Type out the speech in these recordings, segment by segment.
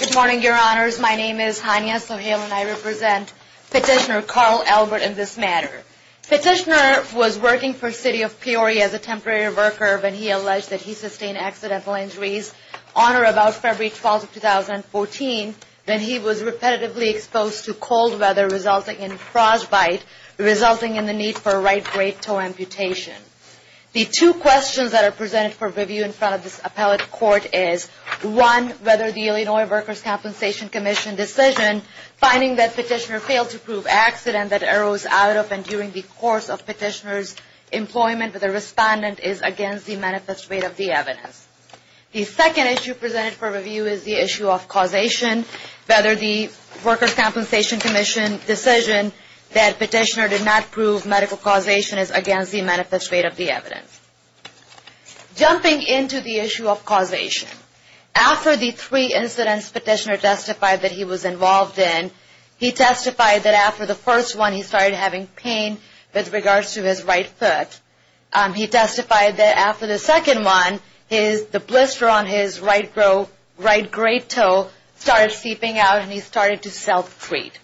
Good morning, Your Honors. My name is Hania Sohail and I represent Petitioner Carl Albert in this matter. Petitioner was working for City of Peoria as a temporary worker when he alleged that he sustained accidental injuries on or about February 12, 2014, when he was repetitively exposed to cold weather, resulting in frostbite. resulting in the need for right-brain-toe amputation. The two questions that are presented for review in front of this appellate court is, one, whether the Illinois Workers' Compensation Commission decision finding that Petitioner failed to prove accident that arose out of and during the course of Petitioner's employment with a respondent is against the manifest rate of the evidence. The second issue presented for review is the issue of causation, whether the Workers' Compensation Commission decision that Petitioner did not prove medical causation is against the manifest rate of the evidence. Jumping into the issue of causation, after the three incidents Petitioner testified that he was involved in, he testified that after the first one he started having pain with regards to his right foot. He testified that after the second one, the blister on his right great toe started seeping out and he started to self-treat.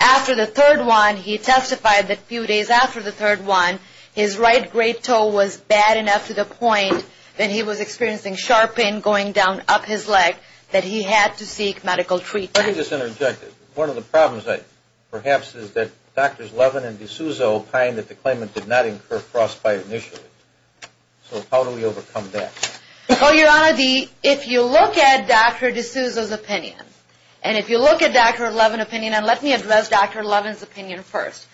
After the third one, he testified that a few days after the third one, his right great toe was bad enough to the point that he was experiencing sharp pain going down up his leg that he had to seek medical treatment. Let me just interject. One of the problems, perhaps, is that Drs. Levin and DeSouza opine that the claimant did not incur frostbite initially. So how do we overcome that? Well, Your Honor, if you look at Dr. DeSouza's opinion, and if you look at Dr. Levin's opinion, and let me address Dr. Levin's opinion first.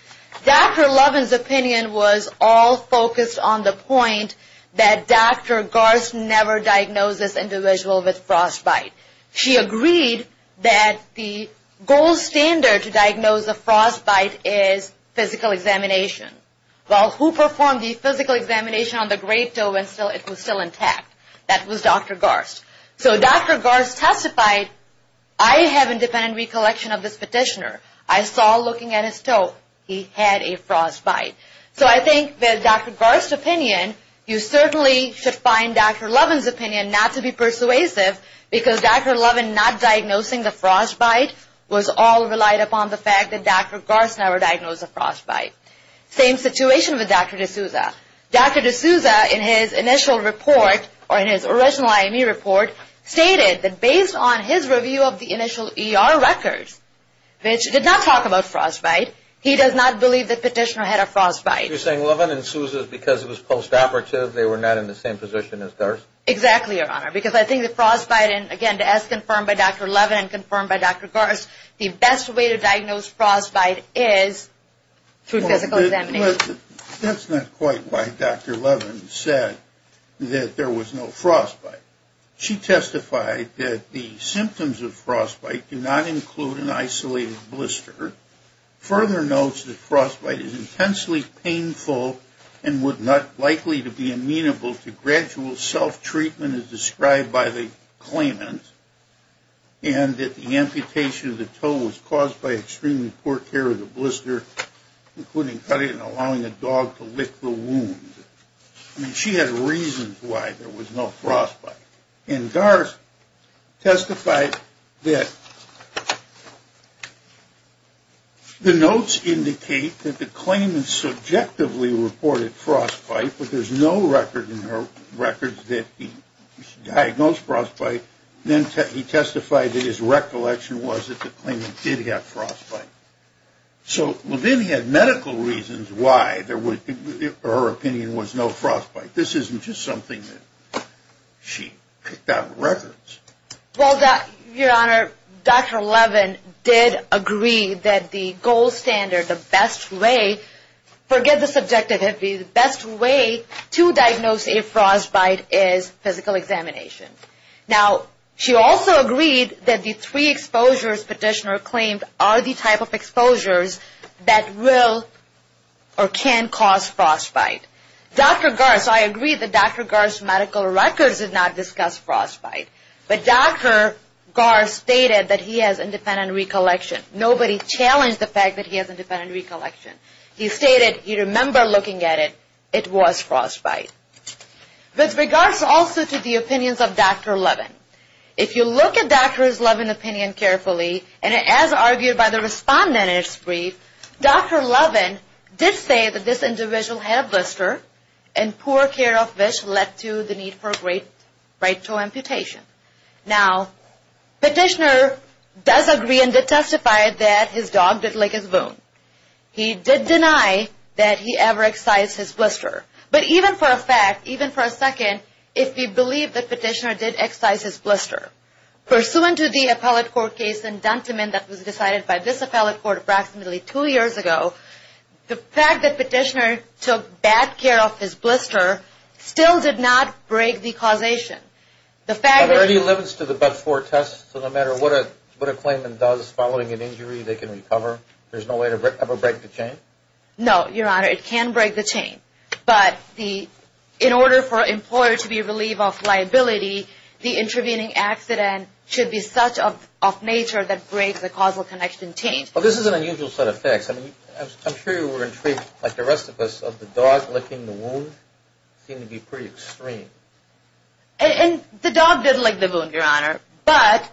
Dr. Levin's opinion was all focused on the point that Dr. Garst never diagnosed this individual with frostbite. She agreed that the gold standard to diagnose a frostbite is physical examination. Well, who performed the physical examination on the great toe and it was still intact? That was Dr. Garst. So Dr. Garst testified, I have independent recollection of this petitioner. I saw looking at his toe, he had a frostbite. So I think that Dr. Garst's opinion, you certainly should find Dr. Levin's opinion not to be persuasive because Dr. Levin not diagnosing the frostbite was all relied upon the fact that Dr. Garst never diagnosed the frostbite. Same situation with Dr. DeSouza. Dr. DeSouza in his initial report, or in his original IME report, stated that based on his review of the initial ER records, which did not talk about frostbite, he does not believe the petitioner had a frostbite. You're saying Levin and DeSouza, because it was postoperative, they were not in the same position as Garst? Exactly, Your Honor, because I think the frostbite, and again, as confirmed by Dr. Levin and confirmed by Dr. Garst, the best way to diagnose frostbite is through physical examination. Well, that's not quite why Dr. Levin said that there was no frostbite. She testified that the symptoms of frostbite do not include an isolated blister. Further notes that frostbite is intensely painful and would not likely to be amenable to gradual self-treatment as described by the claimant. And that the amputation of the toe was caused by extremely poor care of the blister, including cutting and allowing a dog to lick the wound. I mean, she had reasons why there was no frostbite. And Garst testified that the notes indicate that the claimant subjectively reported frostbite, but there's no record in her records that he diagnosed frostbite. Then he testified that his recollection was that the claimant did have frostbite. So then he had medical reasons why there was, in her opinion, was no frostbite. This isn't just something that she picked out of records. Well, Your Honor, Dr. Levin did agree that the gold standard, the best way, forget the subjective, the best way to diagnose a frostbite is physical examination. Now, she also agreed that the three exposures petitioner claimed are the type of exposures that will or can cause frostbite. Dr. Garst, I agree that Dr. Garst's medical records did not discuss frostbite, but Dr. Garst stated that he has independent recollection. Nobody challenged the fact that he has independent recollection. He stated he remember looking at it, it was frostbite. With regards also to the opinions of Dr. Levin, if you look at Dr. Levin's opinion carefully, and as argued by the respondent in his brief, Dr. Levin did say that this individual had blister and poor care of which led to the need for right toe amputation. Now, petitioner does agree and did testify that his dog did lick his wound. He did deny that he ever excised his blister. But even for a fact, even for a second, if we believe that petitioner did excise his blister, pursuant to the appellate court case in Duntiman that was decided by this appellate court approximately two years ago, the fact that petitioner took bad care of his blister still did not break the causation. Are there any limits to the but-for test? So no matter what a claimant does following an injury, they can recover? There's no way to ever break the chain? No, Your Honor, it can break the chain. But in order for an employer to be relieved of liability, the intervening accident should be such of nature that breaks the causal connection chain. Well, this is an unusual set of facts. I'm sure you were intrigued, like the rest of us, of the dog licking the wound seemed to be pretty extreme. And the dog did lick the wound, Your Honor, but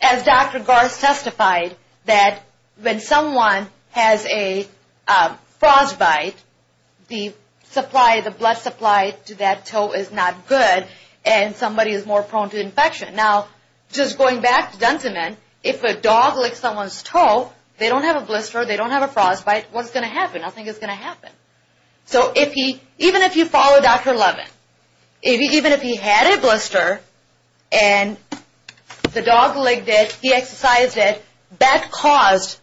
as Dr. Garst testified, that when someone has a frostbite, the supply, the blood supply to that toe is not good and somebody is more prone to infection. Now, just going back to Duntiman, if a dog licks someone's toe, they don't have a blister, they don't have a frostbite, what's going to happen? Nothing is going to happen. So even if you follow Dr. Levin, even if he had a blister and the dog licked it, he exercised it, that caused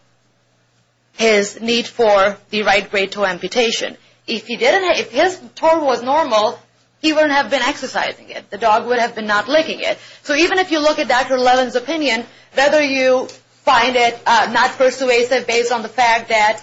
his need for the right great toe amputation. If he didn't, if his toe was normal, he wouldn't have been exercising it. The dog would have been not licking it. So even if you look at Dr. Levin's opinion, whether you find it not persuasive based on the fact that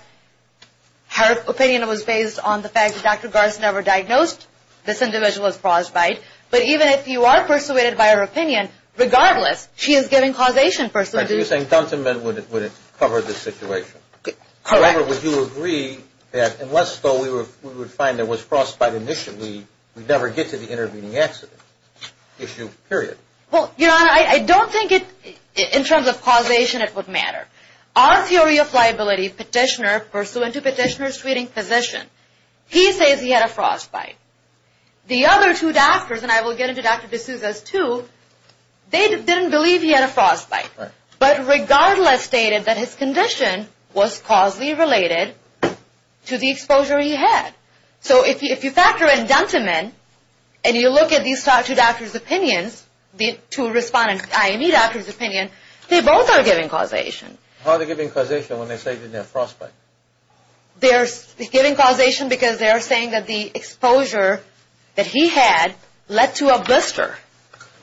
her opinion was based on the fact that Dr. Garst never diagnosed this individual's frostbite, but even if you are persuaded by her opinion, regardless, she is giving causation. So you're saying Duntiman would have covered the situation. Correct. However, would you agree that unless we would find there was frostbite initially, we'd never get to the intervening accident issue, period? Well, Your Honor, I don't think in terms of causation it would matter. Our theory of liability, Petitioner, pursuant to Petitioner's treating physician, he says he had a frostbite. The other two doctors, and I will get into Dr. D'Souza's too, they didn't believe he had a frostbite. Right. But regardless stated that his condition was causally related to the exposure he had. So if you factor in Duntiman and you look at these two doctors' opinions, the two respondents, I.E. doctor's opinion, they both are giving causation. How are they giving causation when they say they didn't have frostbite? They're giving causation because they're saying that the exposure that he had led to a blister.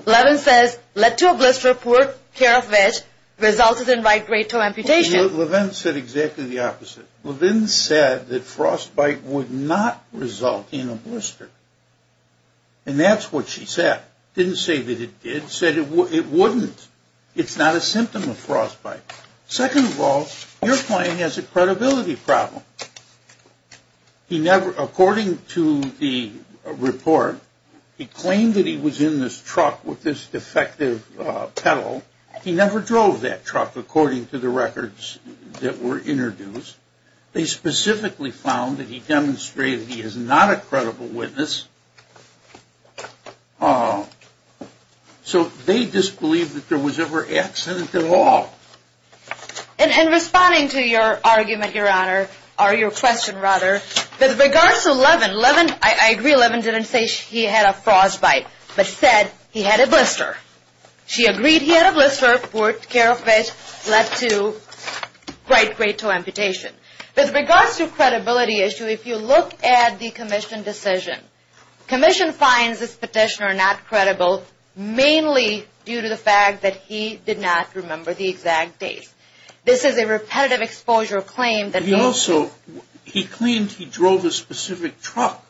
Levin says led to a blister, poor care of it, resulted in right great toe amputation. Levin said exactly the opposite. Levin said that frostbite would not result in a blister. And that's what she said. Didn't say that it did. Said it wouldn't. It's not a symptom of frostbite. Second of all, your client has a credibility problem. He never, according to the report, he claimed that he was in this truck with this defective pedal. He never drove that truck according to the records that were introduced. They specifically found that he demonstrated he is not a credible witness. So they disbelieve that there was ever accident at all. And in responding to your argument, Your Honor, or your question rather, with regards to Levin, I agree Levin didn't say he had a frostbite, but said he had a blister. She agreed he had a blister, poor care of it, led to right great toe amputation. With regards to credibility issue, if you look at the commission decision, commission finds this petitioner not credible mainly due to the fact that he did not remember the exact date. This is a repetitive exposure claim. He also, he claimed he drove a specific truck.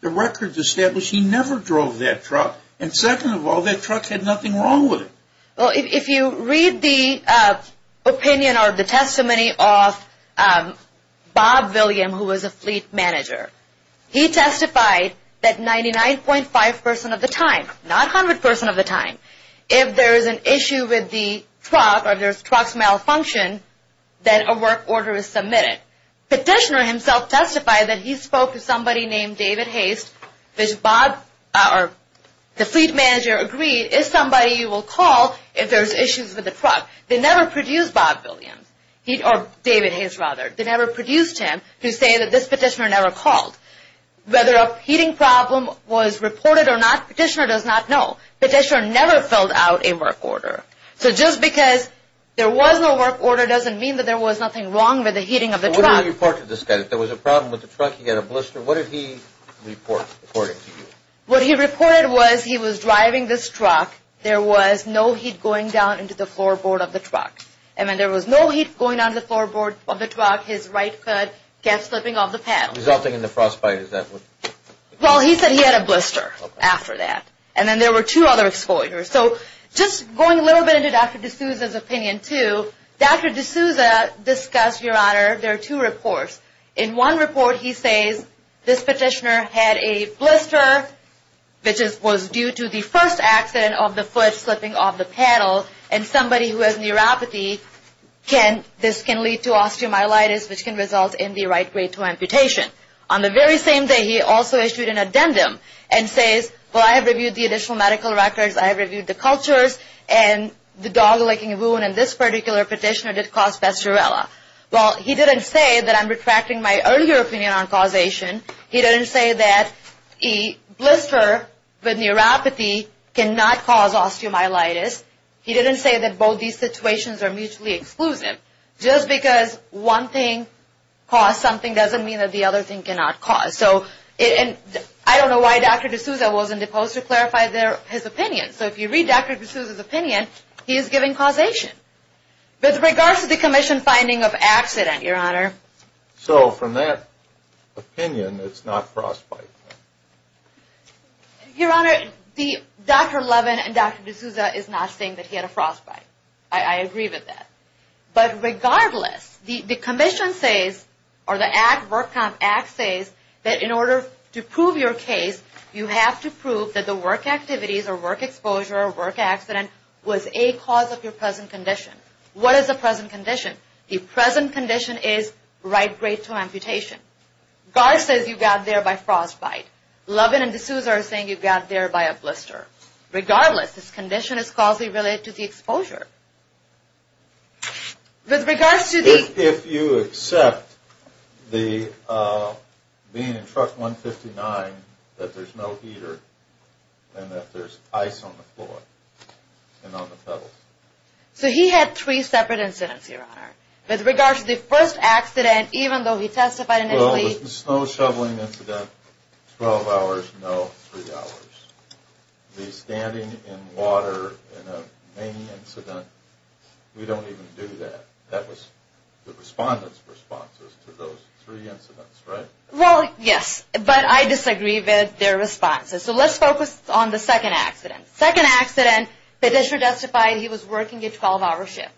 The records establish he never drove that truck. And second of all, that truck had nothing wrong with it. Well, if you read the opinion or the testimony of Bob William, who was a fleet manager, he testified that 99.5% of the time, not 100% of the time, if there is an issue with the truck or the truck's malfunction, that a work order is submitted. Petitioner himself testified that he spoke to somebody named David Haste. The fleet manager agreed if somebody will call if there's issues with the truck. They never produced Bob William, or David Haste rather. They never produced him to say that this petitioner never called. Whether a heating problem was reported or not, petitioner does not know. Petitioner never filled out a work order. So just because there was no work order doesn't mean that there was nothing wrong with the heating of the truck. What did he report to the state? If there was a problem with the truck, he had a blister. What did he report according to you? What he reported was he was driving this truck. There was no heat going down into the floorboard of the truck. And then there was no heat going on the floorboard of the truck. His right foot kept slipping off the pedal. Resulting in the frostbite, is that what? Well, he said he had a blister after that. And then there were two other exposures. So just going a little bit into Dr. D'Souza's opinion too, Dr. D'Souza discussed, Your Honor, there are two reports. In one report he says this petitioner had a blister, which was due to the first accident of the foot slipping off the pedal. And somebody who has neuropathy, this can lead to osteomyelitis, which can result in the right grade II amputation. On the very same day, he also issued an addendum and says, Well, I have reviewed the additional medical records. I have reviewed the cultures. And the dog licking wound in this particular petitioner did cause bestiorella. Well, he didn't say that I'm retracting my earlier opinion on causation. He didn't say that a blister with neuropathy cannot cause osteomyelitis. He didn't say that both these situations are mutually exclusive. Just because one thing caused something doesn't mean that the other thing cannot cause. So I don't know why Dr. D'Souza wasn't opposed to clarify his opinion. So if you read Dr. D'Souza's opinion, he is giving causation. With regards to the commission finding of accident, Your Honor. So from that opinion, it's not frostbite. Your Honor, Dr. Levin and Dr. D'Souza is not saying that he had a frostbite. I agree with that. But regardless, the commission says, or the work comp act says, that in order to prove your case, you have to prove that the work activities or work exposure or work accident was a cause of your present condition. What is the present condition? The present condition is right grade 2 amputation. Garth says you got there by frostbite. Levin and D'Souza are saying you got there by a blister. With regards to the... If you accept the, being in truck 159, that there's no heater and that there's ice on the floor and on the pedals. So he had three separate incidents, Your Honor. With regards to the first accident, even though he testified initially... The snow shoveling incident, 12 hours, no, 3 hours. The standing in water in a main incident, we don't even do that. That was the respondent's responses to those three incidents, right? Well, yes. But I disagree with their responses. So let's focus on the second accident. Second accident, petitioner testified he was working a 12-hour shift,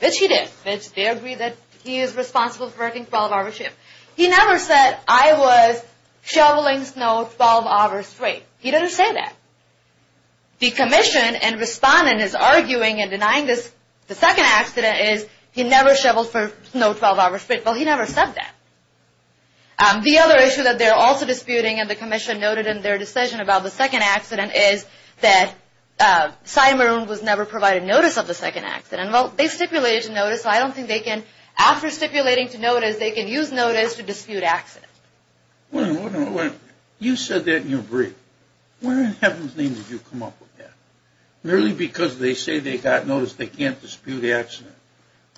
which he did. They agreed that he is responsible for working a 12-hour shift. He never said, I was shoveling snow 12 hours straight. He didn't say that. The commission and respondent is arguing and denying this. The second accident is he never shoveled snow 12 hours straight. Well, he never said that. The other issue that they're also disputing and the commission noted in their decision about the second accident is that Simon was never provided notice of the second accident. Well, they stipulated notice, so I don't think they can, after stipulating to notice, they can use notice to dispute accident. You said that in your brief. Where in heaven's name did you come up with that? Merely because they say they got notice, they can't dispute accident.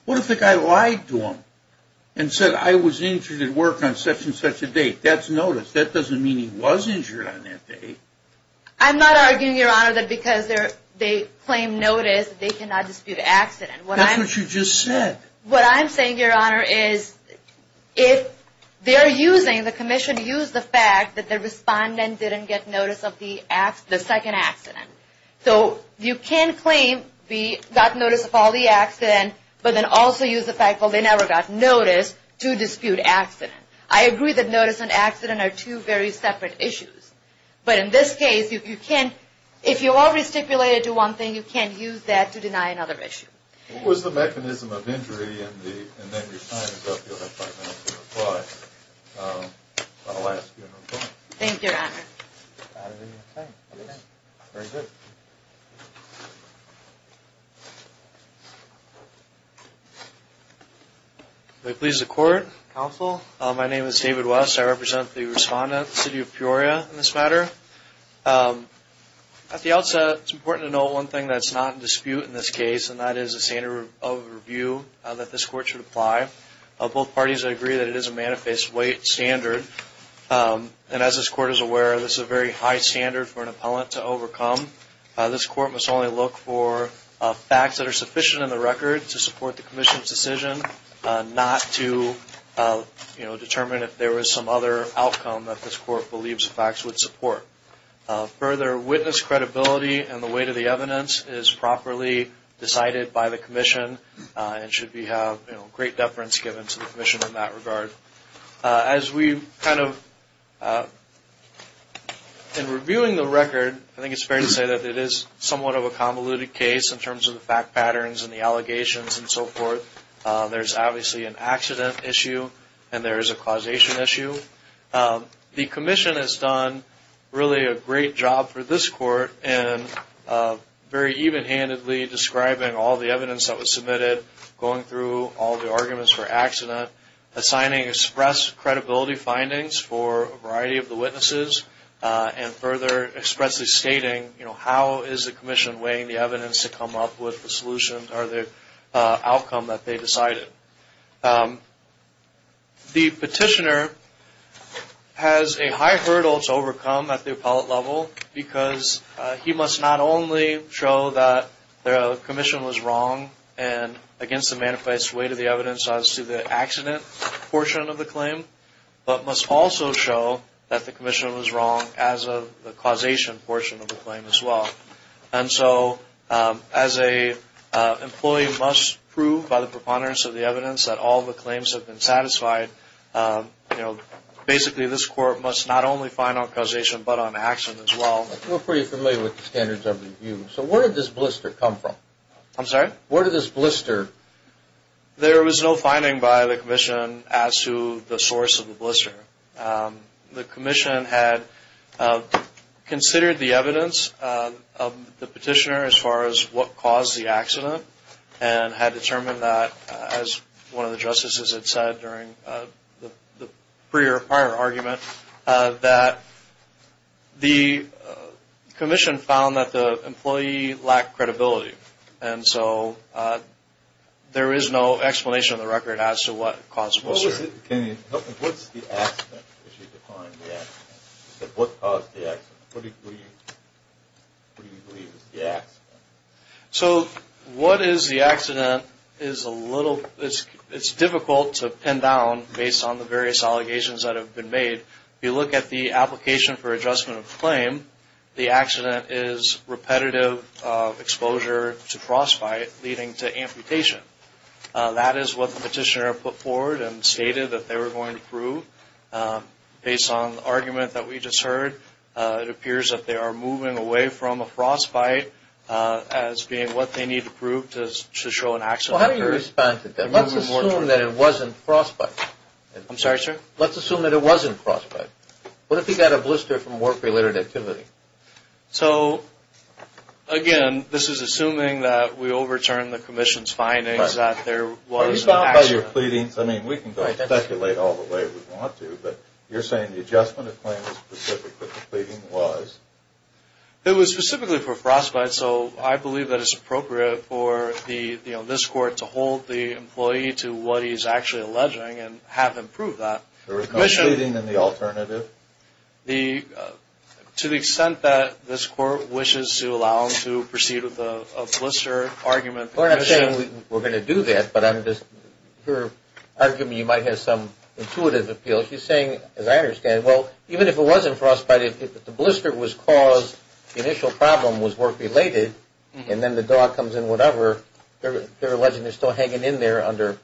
What if the guy lied to them and said, I was injured at work on such and such a date? That's notice. That doesn't mean he was injured on that date. I'm not arguing, Your Honor, that because they claim notice, they cannot dispute accident. That's what you just said. What I'm saying, Your Honor, is if they're using, the commission used the fact that the respondent didn't get notice of the second accident. So you can claim they got notice of all the accidents, but then also use the fact that they never got notice to dispute accident. I agree that notice and accident are two very separate issues. But in this case, if you already stipulated to one thing, you can't use that to deny another issue. What was the mechanism of injury? And then your time is up. You'll have five minutes to reply. I'll ask you to reply. Thank you, Your Honor. I don't have any more time. Very good. If it pleases the Court, Counsel, my name is David West. I represent the respondent, the city of Peoria, in this matter. At the outset, it's important to note one thing that's not in dispute in this case, and that is a standard of review that this Court should apply. Both parties agree that it is a manifest weight standard. And as this Court is aware, this is a very high standard for an appellant to overcome. This Court must only look for facts that are sufficient in the record to support the commission's decision, not to determine if there was some other outcome that this Court believes the facts would support. Further, witness credibility and the weight of the evidence is properly decided by the commission and should we have great deference given to the commission in that regard. As we kind of, in reviewing the record, I think it's fair to say that it is somewhat of a convoluted case in terms of the fact patterns and the allegations and so forth. There's obviously an accident issue and there is a causation issue. The commission has done really a great job for this Court in very even-handedly describing all the evidence that was submitted, going through all the arguments for accident, assigning express credibility findings for a variety of the witnesses, and further expressly stating how is the commission weighing the evidence to come up with the solution or the outcome that they decided. The petitioner has a high hurdle to overcome at the appellate level because he must not only show that the commission was wrong and against the manifest weight of the evidence as to the accident portion of the claim, but must also show that the commission was wrong as of the causation portion of the claim as well. And so as an employee must prove by the preponderance of the evidence that all the claims have been satisfied, basically this Court must not only find on causation but on accident as well. We're pretty familiar with the standards of review. So where did this blister come from? I'm sorry? Where did this blister... There was no finding by the commission as to the source of the blister. The commission had considered the evidence of the petitioner as far as what caused the accident and had determined that, as one of the justices had said during the prior argument, that the commission found that the employee lacked credibility. And so there is no explanation on the record as to what caused the blister. Can you help me? What's the accident if you define the accident? What caused the accident? What do you believe is the accident? So what is the accident is a little... It's difficult to pin down based on the various allegations that have been made. If you look at the application for adjustment of claim, the accident is repetitive exposure to frostbite leading to amputation. That is what the petitioner put forward and stated that they were going to prove. Based on the argument that we just heard, it appears that they are moving away from a frostbite as being what they need to prove to show an accident occurred. Well, how do you respond to that? Let's assume that it wasn't frostbite. I'm sorry, sir? Let's assume that it wasn't frostbite. What if he got a blister from work-related activity? So, again, this is assuming that we overturn the commission's findings that there was an accident. I mean, we can go ahead and speculate all the way we want to, but you're saying the adjustment of claim was specific to what the pleading was? It was specifically for frostbite, so I believe that it's appropriate for this court to hold the employee to what he's actually alleging and have him prove that. There was no shooting in the alternative? To the extent that this court wishes to allow him to proceed with a blister argument. We're not saying we're going to do that, but I'm just – her argument, you might have some intuitive appeal. She's saying, as I understand, well, even if it wasn't frostbite, if the blister was caused, the initial problem was work-related, and then the dog comes in whatever, they're alleging they're still hanging in there under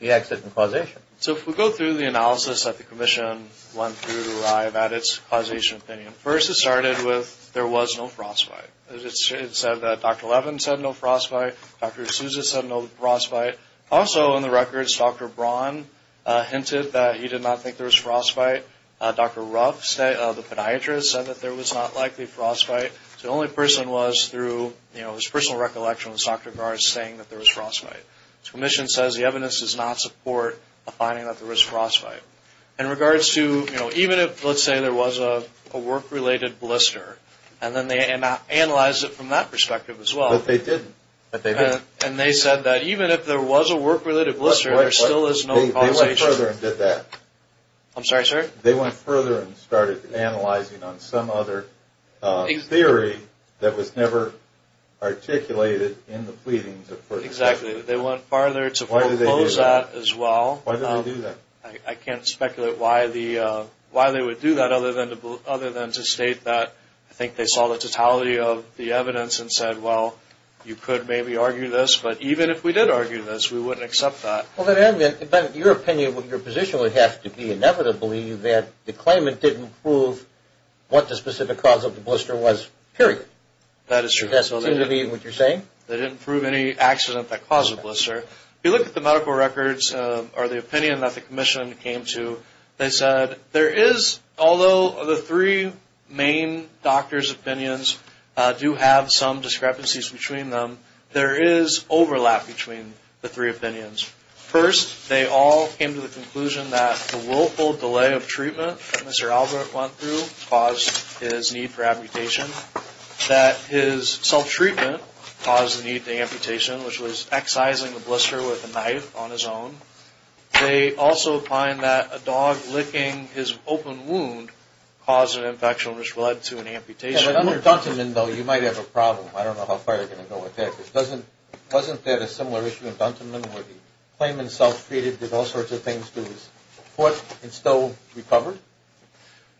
the accident causation. So if we go through the analysis that the commission went through to arrive at its causation opinion, first it started with there was no frostbite. It said that Dr. Levin said no frostbite. Dr. Sousa said no frostbite. Also in the records, Dr. Braun hinted that he did not think there was frostbite. Dr. Ruff, the podiatrist, said that there was not likely frostbite. So the only person was through his personal recollection was Dr. Garz saying that there was frostbite. The commission says the evidence does not support the finding that there was frostbite. In regards to, you know, even if, let's say, there was a work-related blister, and then they analyzed it from that perspective as well. But they didn't. And they said that even if there was a work-related blister, there still is no causation. They went further and did that. I'm sorry, sir? They went further and started analyzing on some other theory that was never articulated in the pleadings. Exactly. They went farther to foreclose that as well. Why did they do that? I can't speculate why they would do that other than to state that I think they saw the totality of the evidence and said, well, you could maybe argue this, but even if we did argue this, we wouldn't accept that. But your opinion, your position would have to be, inevitably, that the claimant didn't prove what the specific cause of the blister was, period. That is true. Does that seem to be what you're saying? They didn't prove any accident that caused the blister. If you look at the medical records or the opinion that the commission came to, they said there is, although the three main doctors' opinions do have some discrepancies between them, there is overlap between the three opinions. First, they all came to the conclusion that the willful delay of treatment that Mr. Albert went through caused his need for amputation, that his self-treatment caused the need for amputation, which was excising the blister with a knife on his own. They also find that a dog licking his open wound caused an infection, which led to an amputation. Under Duntonman, though, you might have a problem. I don't know how far you're going to go with that. Wasn't that a similar issue in Duntonman where the claimant self-treated, did all sorts of things to his foot, and still recovered?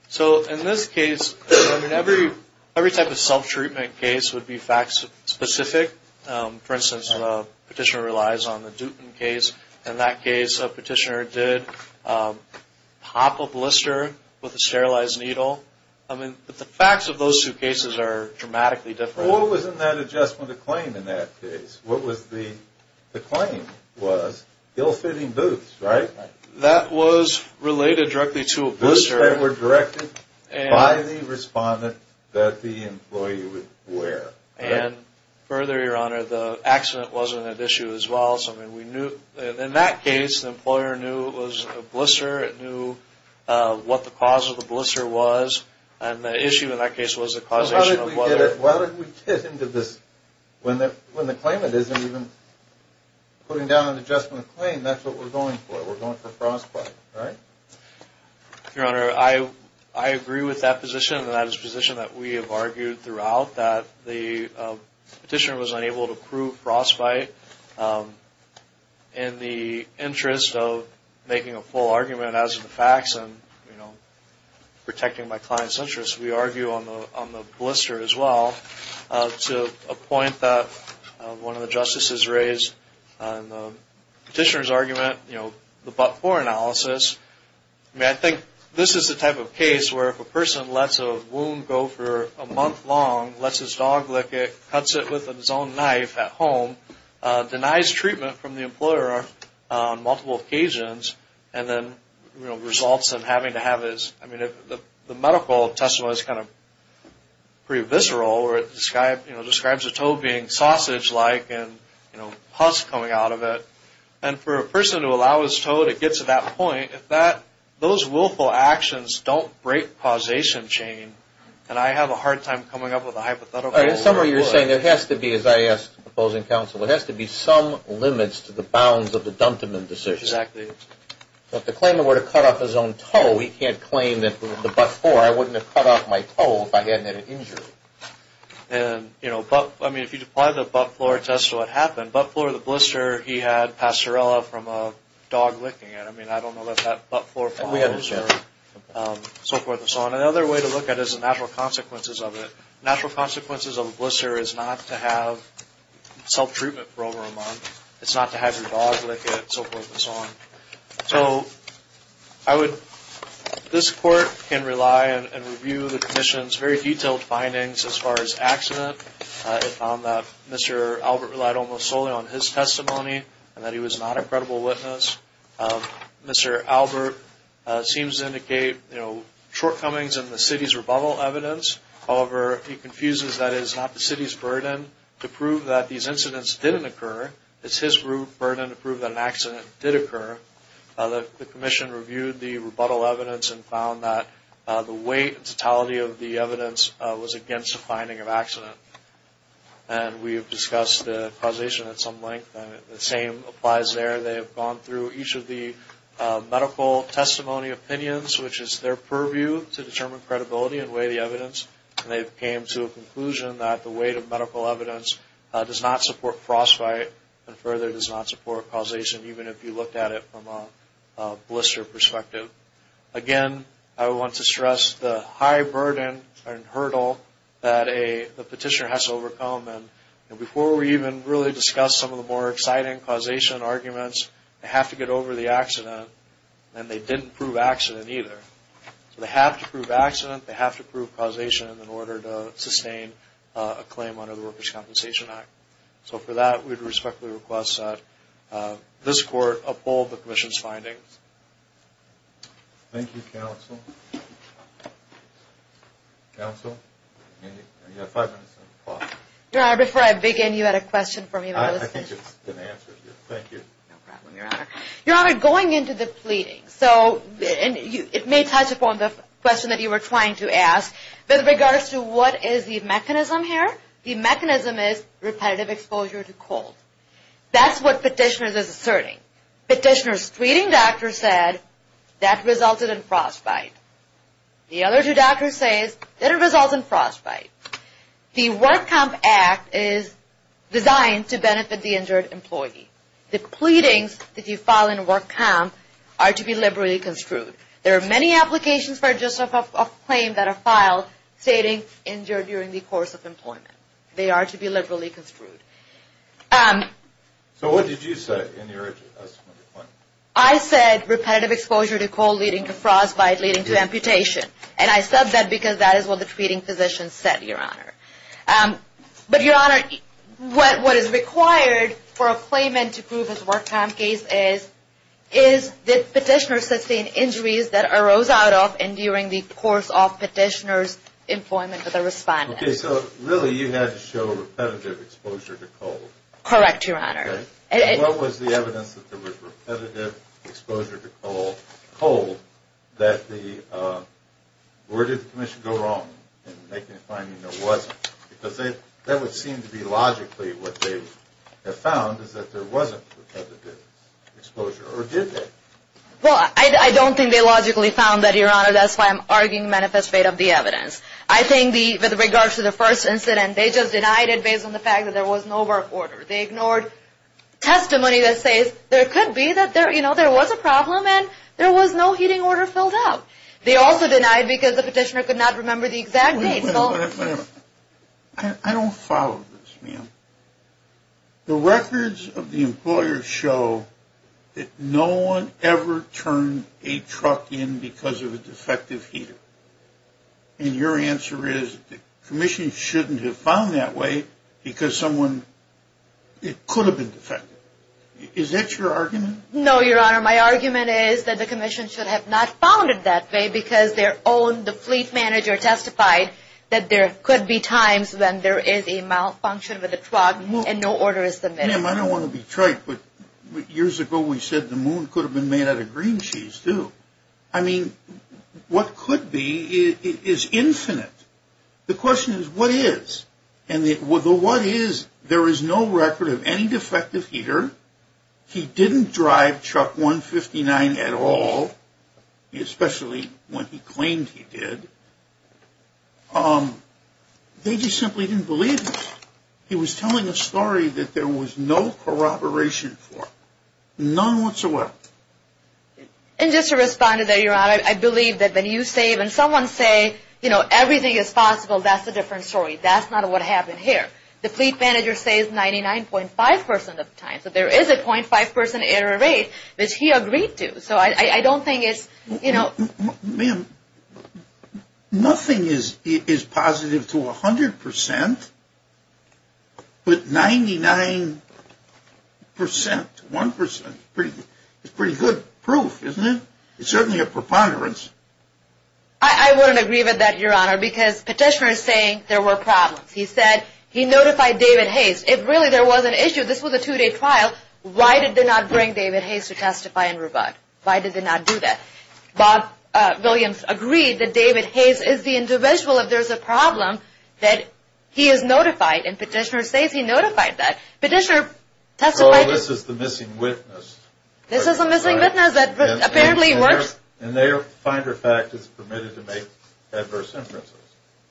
So in this case, I mean, every type of self-treatment case would be fact-specific. For instance, the petitioner relies on the Dutton case. In that case, a petitioner did pop a blister with a sterilized needle. I mean, the facts of those two cases are dramatically different. Well, what was in that adjustment of claim in that case? What was the claim was ill-fitting boots, right? That was related directly to a blister. Boots that were directed by the respondent that the employee would wear. And further, Your Honor, the accident wasn't an issue as well. So, I mean, in that case, the employer knew it was a blister. It knew what the cause of the blister was, and the issue in that case was the causation of weather. Well, how did we get into this? When the claimant isn't even putting down an adjustment of claim, that's what we're going for. We're going for frostbite, right? Your Honor, I agree with that position. That is a position that we have argued throughout, that the petitioner was unable to prove frostbite. In the interest of making a full argument as to the facts and protecting my client's interests, we argue on the blister as well to a point that one of the justices raised. Petitioner's argument, you know, the but-for analysis. I mean, I think this is the type of case where if a person lets a wound go for a month long, lets his dog lick it, cuts it with his own knife at home, denies treatment from the employer on multiple occasions, and then results in having to have his... I mean, the medical testimony is kind of pretty visceral, where it describes a toe being sausage-like and, you know, pus coming out of it. And for a person to allow his toe to get to that point, if those willful actions don't break causation chain, then I have a hard time coming up with a hypothetical... In summary, you're saying there has to be, as I asked the opposing counsel, there has to be some limits to the bounds of the Dunteman decision. If the claimant were to cut off his own toe, he can't claim that the but-for, I wouldn't have cut off my toe if I hadn't had an injury. And, you know, but... I mean, if you apply the but-for test to what happened, but-for the blister, he had pastorella from a dog licking it. I mean, I don't know if that but-for follows or so forth and so on. Another way to look at it is the natural consequences of it. Natural consequences of a blister is not to have self-treatment for over a month. It's not to have your dog lick it, so forth and so on. So, I would... This court can rely and review the petition's very detailed findings as far as accident. It found that Mr. Albert relied almost solely on his testimony and that he was not a credible witness. Mr. Albert seems to indicate, you know, shortcomings in the city's rebuttal evidence. However, he confuses that it is not the city's burden to prove that these incidents didn't occur. It's his burden to prove that an accident did occur. The commission reviewed the rebuttal evidence and found that the weight and totality of the evidence was against the finding of accident. And we have discussed the causation at some length. The same applies there. They have gone through each of the medical testimony opinions, which is their purview to determine credibility and weigh the evidence. And they came to a conclusion that the weight of medical evidence does not support frostbite and further does not support causation, even if you looked at it from a blister perspective. Again, I want to stress the high burden and hurdle that a petitioner has to overcome. And before we even really discuss some of the more exciting causation arguments, they have to get over the accident, and they didn't prove accident either. They have to prove accident. They have to prove causation in order to sustain a claim under the Workers' Compensation Act. So for that, we respectfully request that this court uphold the commission's findings. Thank you, counsel. Counsel, you have five minutes on the clock. Your Honor, before I begin, you had a question for me. I think it's been answered. Thank you. No problem, Your Honor. Your Honor, going into the pleadings, so it may touch upon the question that you were trying to ask. With regards to what is the mechanism here, the mechanism is repetitive exposure to cold. That's what petitioners are asserting. Petitioners' tweeting doctor said that resulted in frostbite. The other two doctors say that it resulted in frostbite. The Work Comp Act is designed to benefit the injured employee. The pleadings that you file in a work comp are to be liberally construed. There are many applications for just a claim that are filed stating injured during the course of employment. They are to be liberally construed. So what did you say in your assessment? I said repetitive exposure to cold leading to frostbite leading to amputation. And I said that because that is what the tweeting physician said, Your Honor. But, Your Honor, what is required for a claimant to prove his work comp case is, did petitioners sustain injuries that arose out of and during the course of petitioner's employment with a respondent? Okay, so really you had to show repetitive exposure to cold. Correct, Your Honor. And what was the evidence that there was repetitive exposure to cold that the, where did the commission go wrong in making the finding there wasn't? Because that would seem to be logically what they have found is that there wasn't repetitive exposure. Or did they? Well, I don't think they logically found that, Your Honor. That's why I'm arguing manifest fate of the evidence. I think with regards to the first incident, they just denied it based on the fact that there was no work order. They ignored testimony that says there could be that there, you know, there was a problem and there was no heating order filled out. They also denied because the petitioner could not remember the exact date. Wait a minute. I don't follow this, ma'am. The records of the employer show that no one ever turned a truck in because of a defective heater. And your answer is the commission shouldn't have found that way because someone, it could have been defective. Is that your argument? No, Your Honor. My argument is that the commission should have not found it that way because their own, the fleet manager, testified that there could be times when there is a malfunction of the truck and no order is submitted. Ma'am, I don't want to be trite, but years ago we said the moon could have been made out of green cheese, too. I mean, what could be is infinite. The question is what is. And the what is, there is no record of any defective heater. He didn't drive truck 159 at all, especially when he claimed he did. They just simply didn't believe him. He was telling a story that there was no corroboration for, none whatsoever. And just to respond to that, Your Honor, I believe that when you say, when someone say, you know, everything is possible, that's a different story. That's not what happened here. The fleet manager says 99.5% of the time. So there is a .5% error rate, which he agreed to. So I don't think it's, you know. Ma'am, nothing is positive to 100%, but 99%, 1%, is pretty good proof, isn't it? It's certainly a preponderance. I wouldn't agree with that, Your Honor, because Petitioner is saying there were problems. He said he notified David Hayes. If really there was an issue, this was a two-day trial, why did they not bring David Hayes to testify and rebut? Why did they not do that? Bob Williams agreed that David Hayes is the individual, if there's a problem, that he is notified, and Petitioner says he notified that. Petitioner testified. Well, this is the missing witness. This is a missing witness that apparently works. And their finder fact is permitted to make adverse inferences.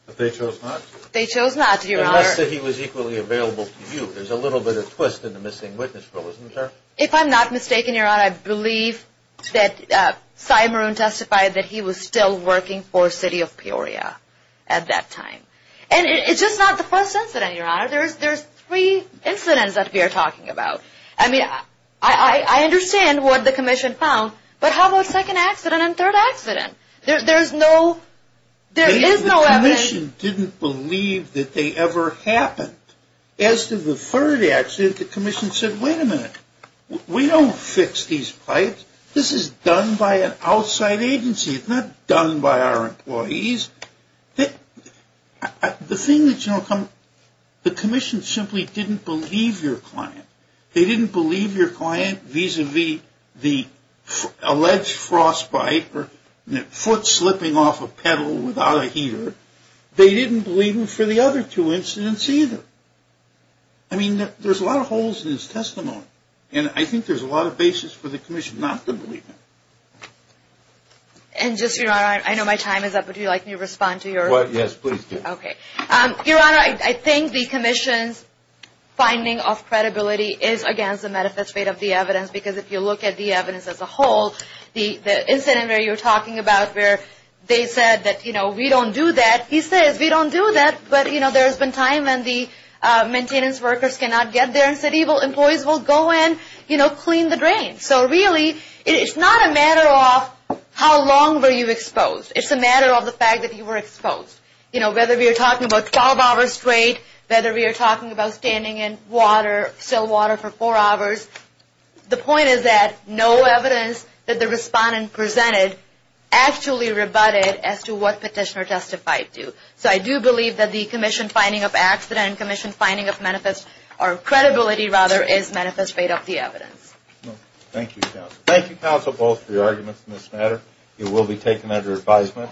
But they chose not to. They chose not to, Your Honor. Unless he was equally available to you. There's a little bit of twist in the missing witness rule, isn't there? If I'm not mistaken, Your Honor, I believe that Sy Maroon testified that he was still working for City of Peoria at that time. And it's just not the first incident, Your Honor. There's three incidents that we are talking about. I mean, I understand what the commission found, but how about second accident and third accident? There's no evidence. The commission didn't believe that they ever happened. As to the third accident, the commission said, wait a minute. We don't fix these pipes. This is done by an outside agency. It's not done by our employees. The thing that, you know, the commission simply didn't believe your client. They didn't believe your client vis-a-vis the alleged frostbite foot slipping off a pedal without a heater. They didn't believe him for the other two incidents either. I mean, there's a lot of holes in his testimony. And I think there's a lot of basis for the commission not to believe him. And just, Your Honor, I know my time is up, but would you like me to respond to your? Yes, please do. Okay. Your Honor, I think the commission's finding of credibility is against the manifest rate of the evidence because if you look at the evidence as a whole, the incident where you're talking about where they said that, you know, we don't do that. He says we don't do that, but, you know, there's been time when the maintenance workers cannot get there and employees will go in, you know, clean the drains. So, really, it's not a matter of how long were you exposed. It's a matter of the fact that you were exposed. You know, whether we are talking about 12 hours straight, whether we are talking about standing in water, still water for four hours. The point is that no evidence that the respondent presented actually rebutted as to what petitioner testified to. So I do believe that the commission finding of accident, commission finding of manifest, or credibility, rather, is manifest rate of the evidence. Thank you, counsel. Thank you, counsel, both for your arguments in this matter. It will be taken under advisement.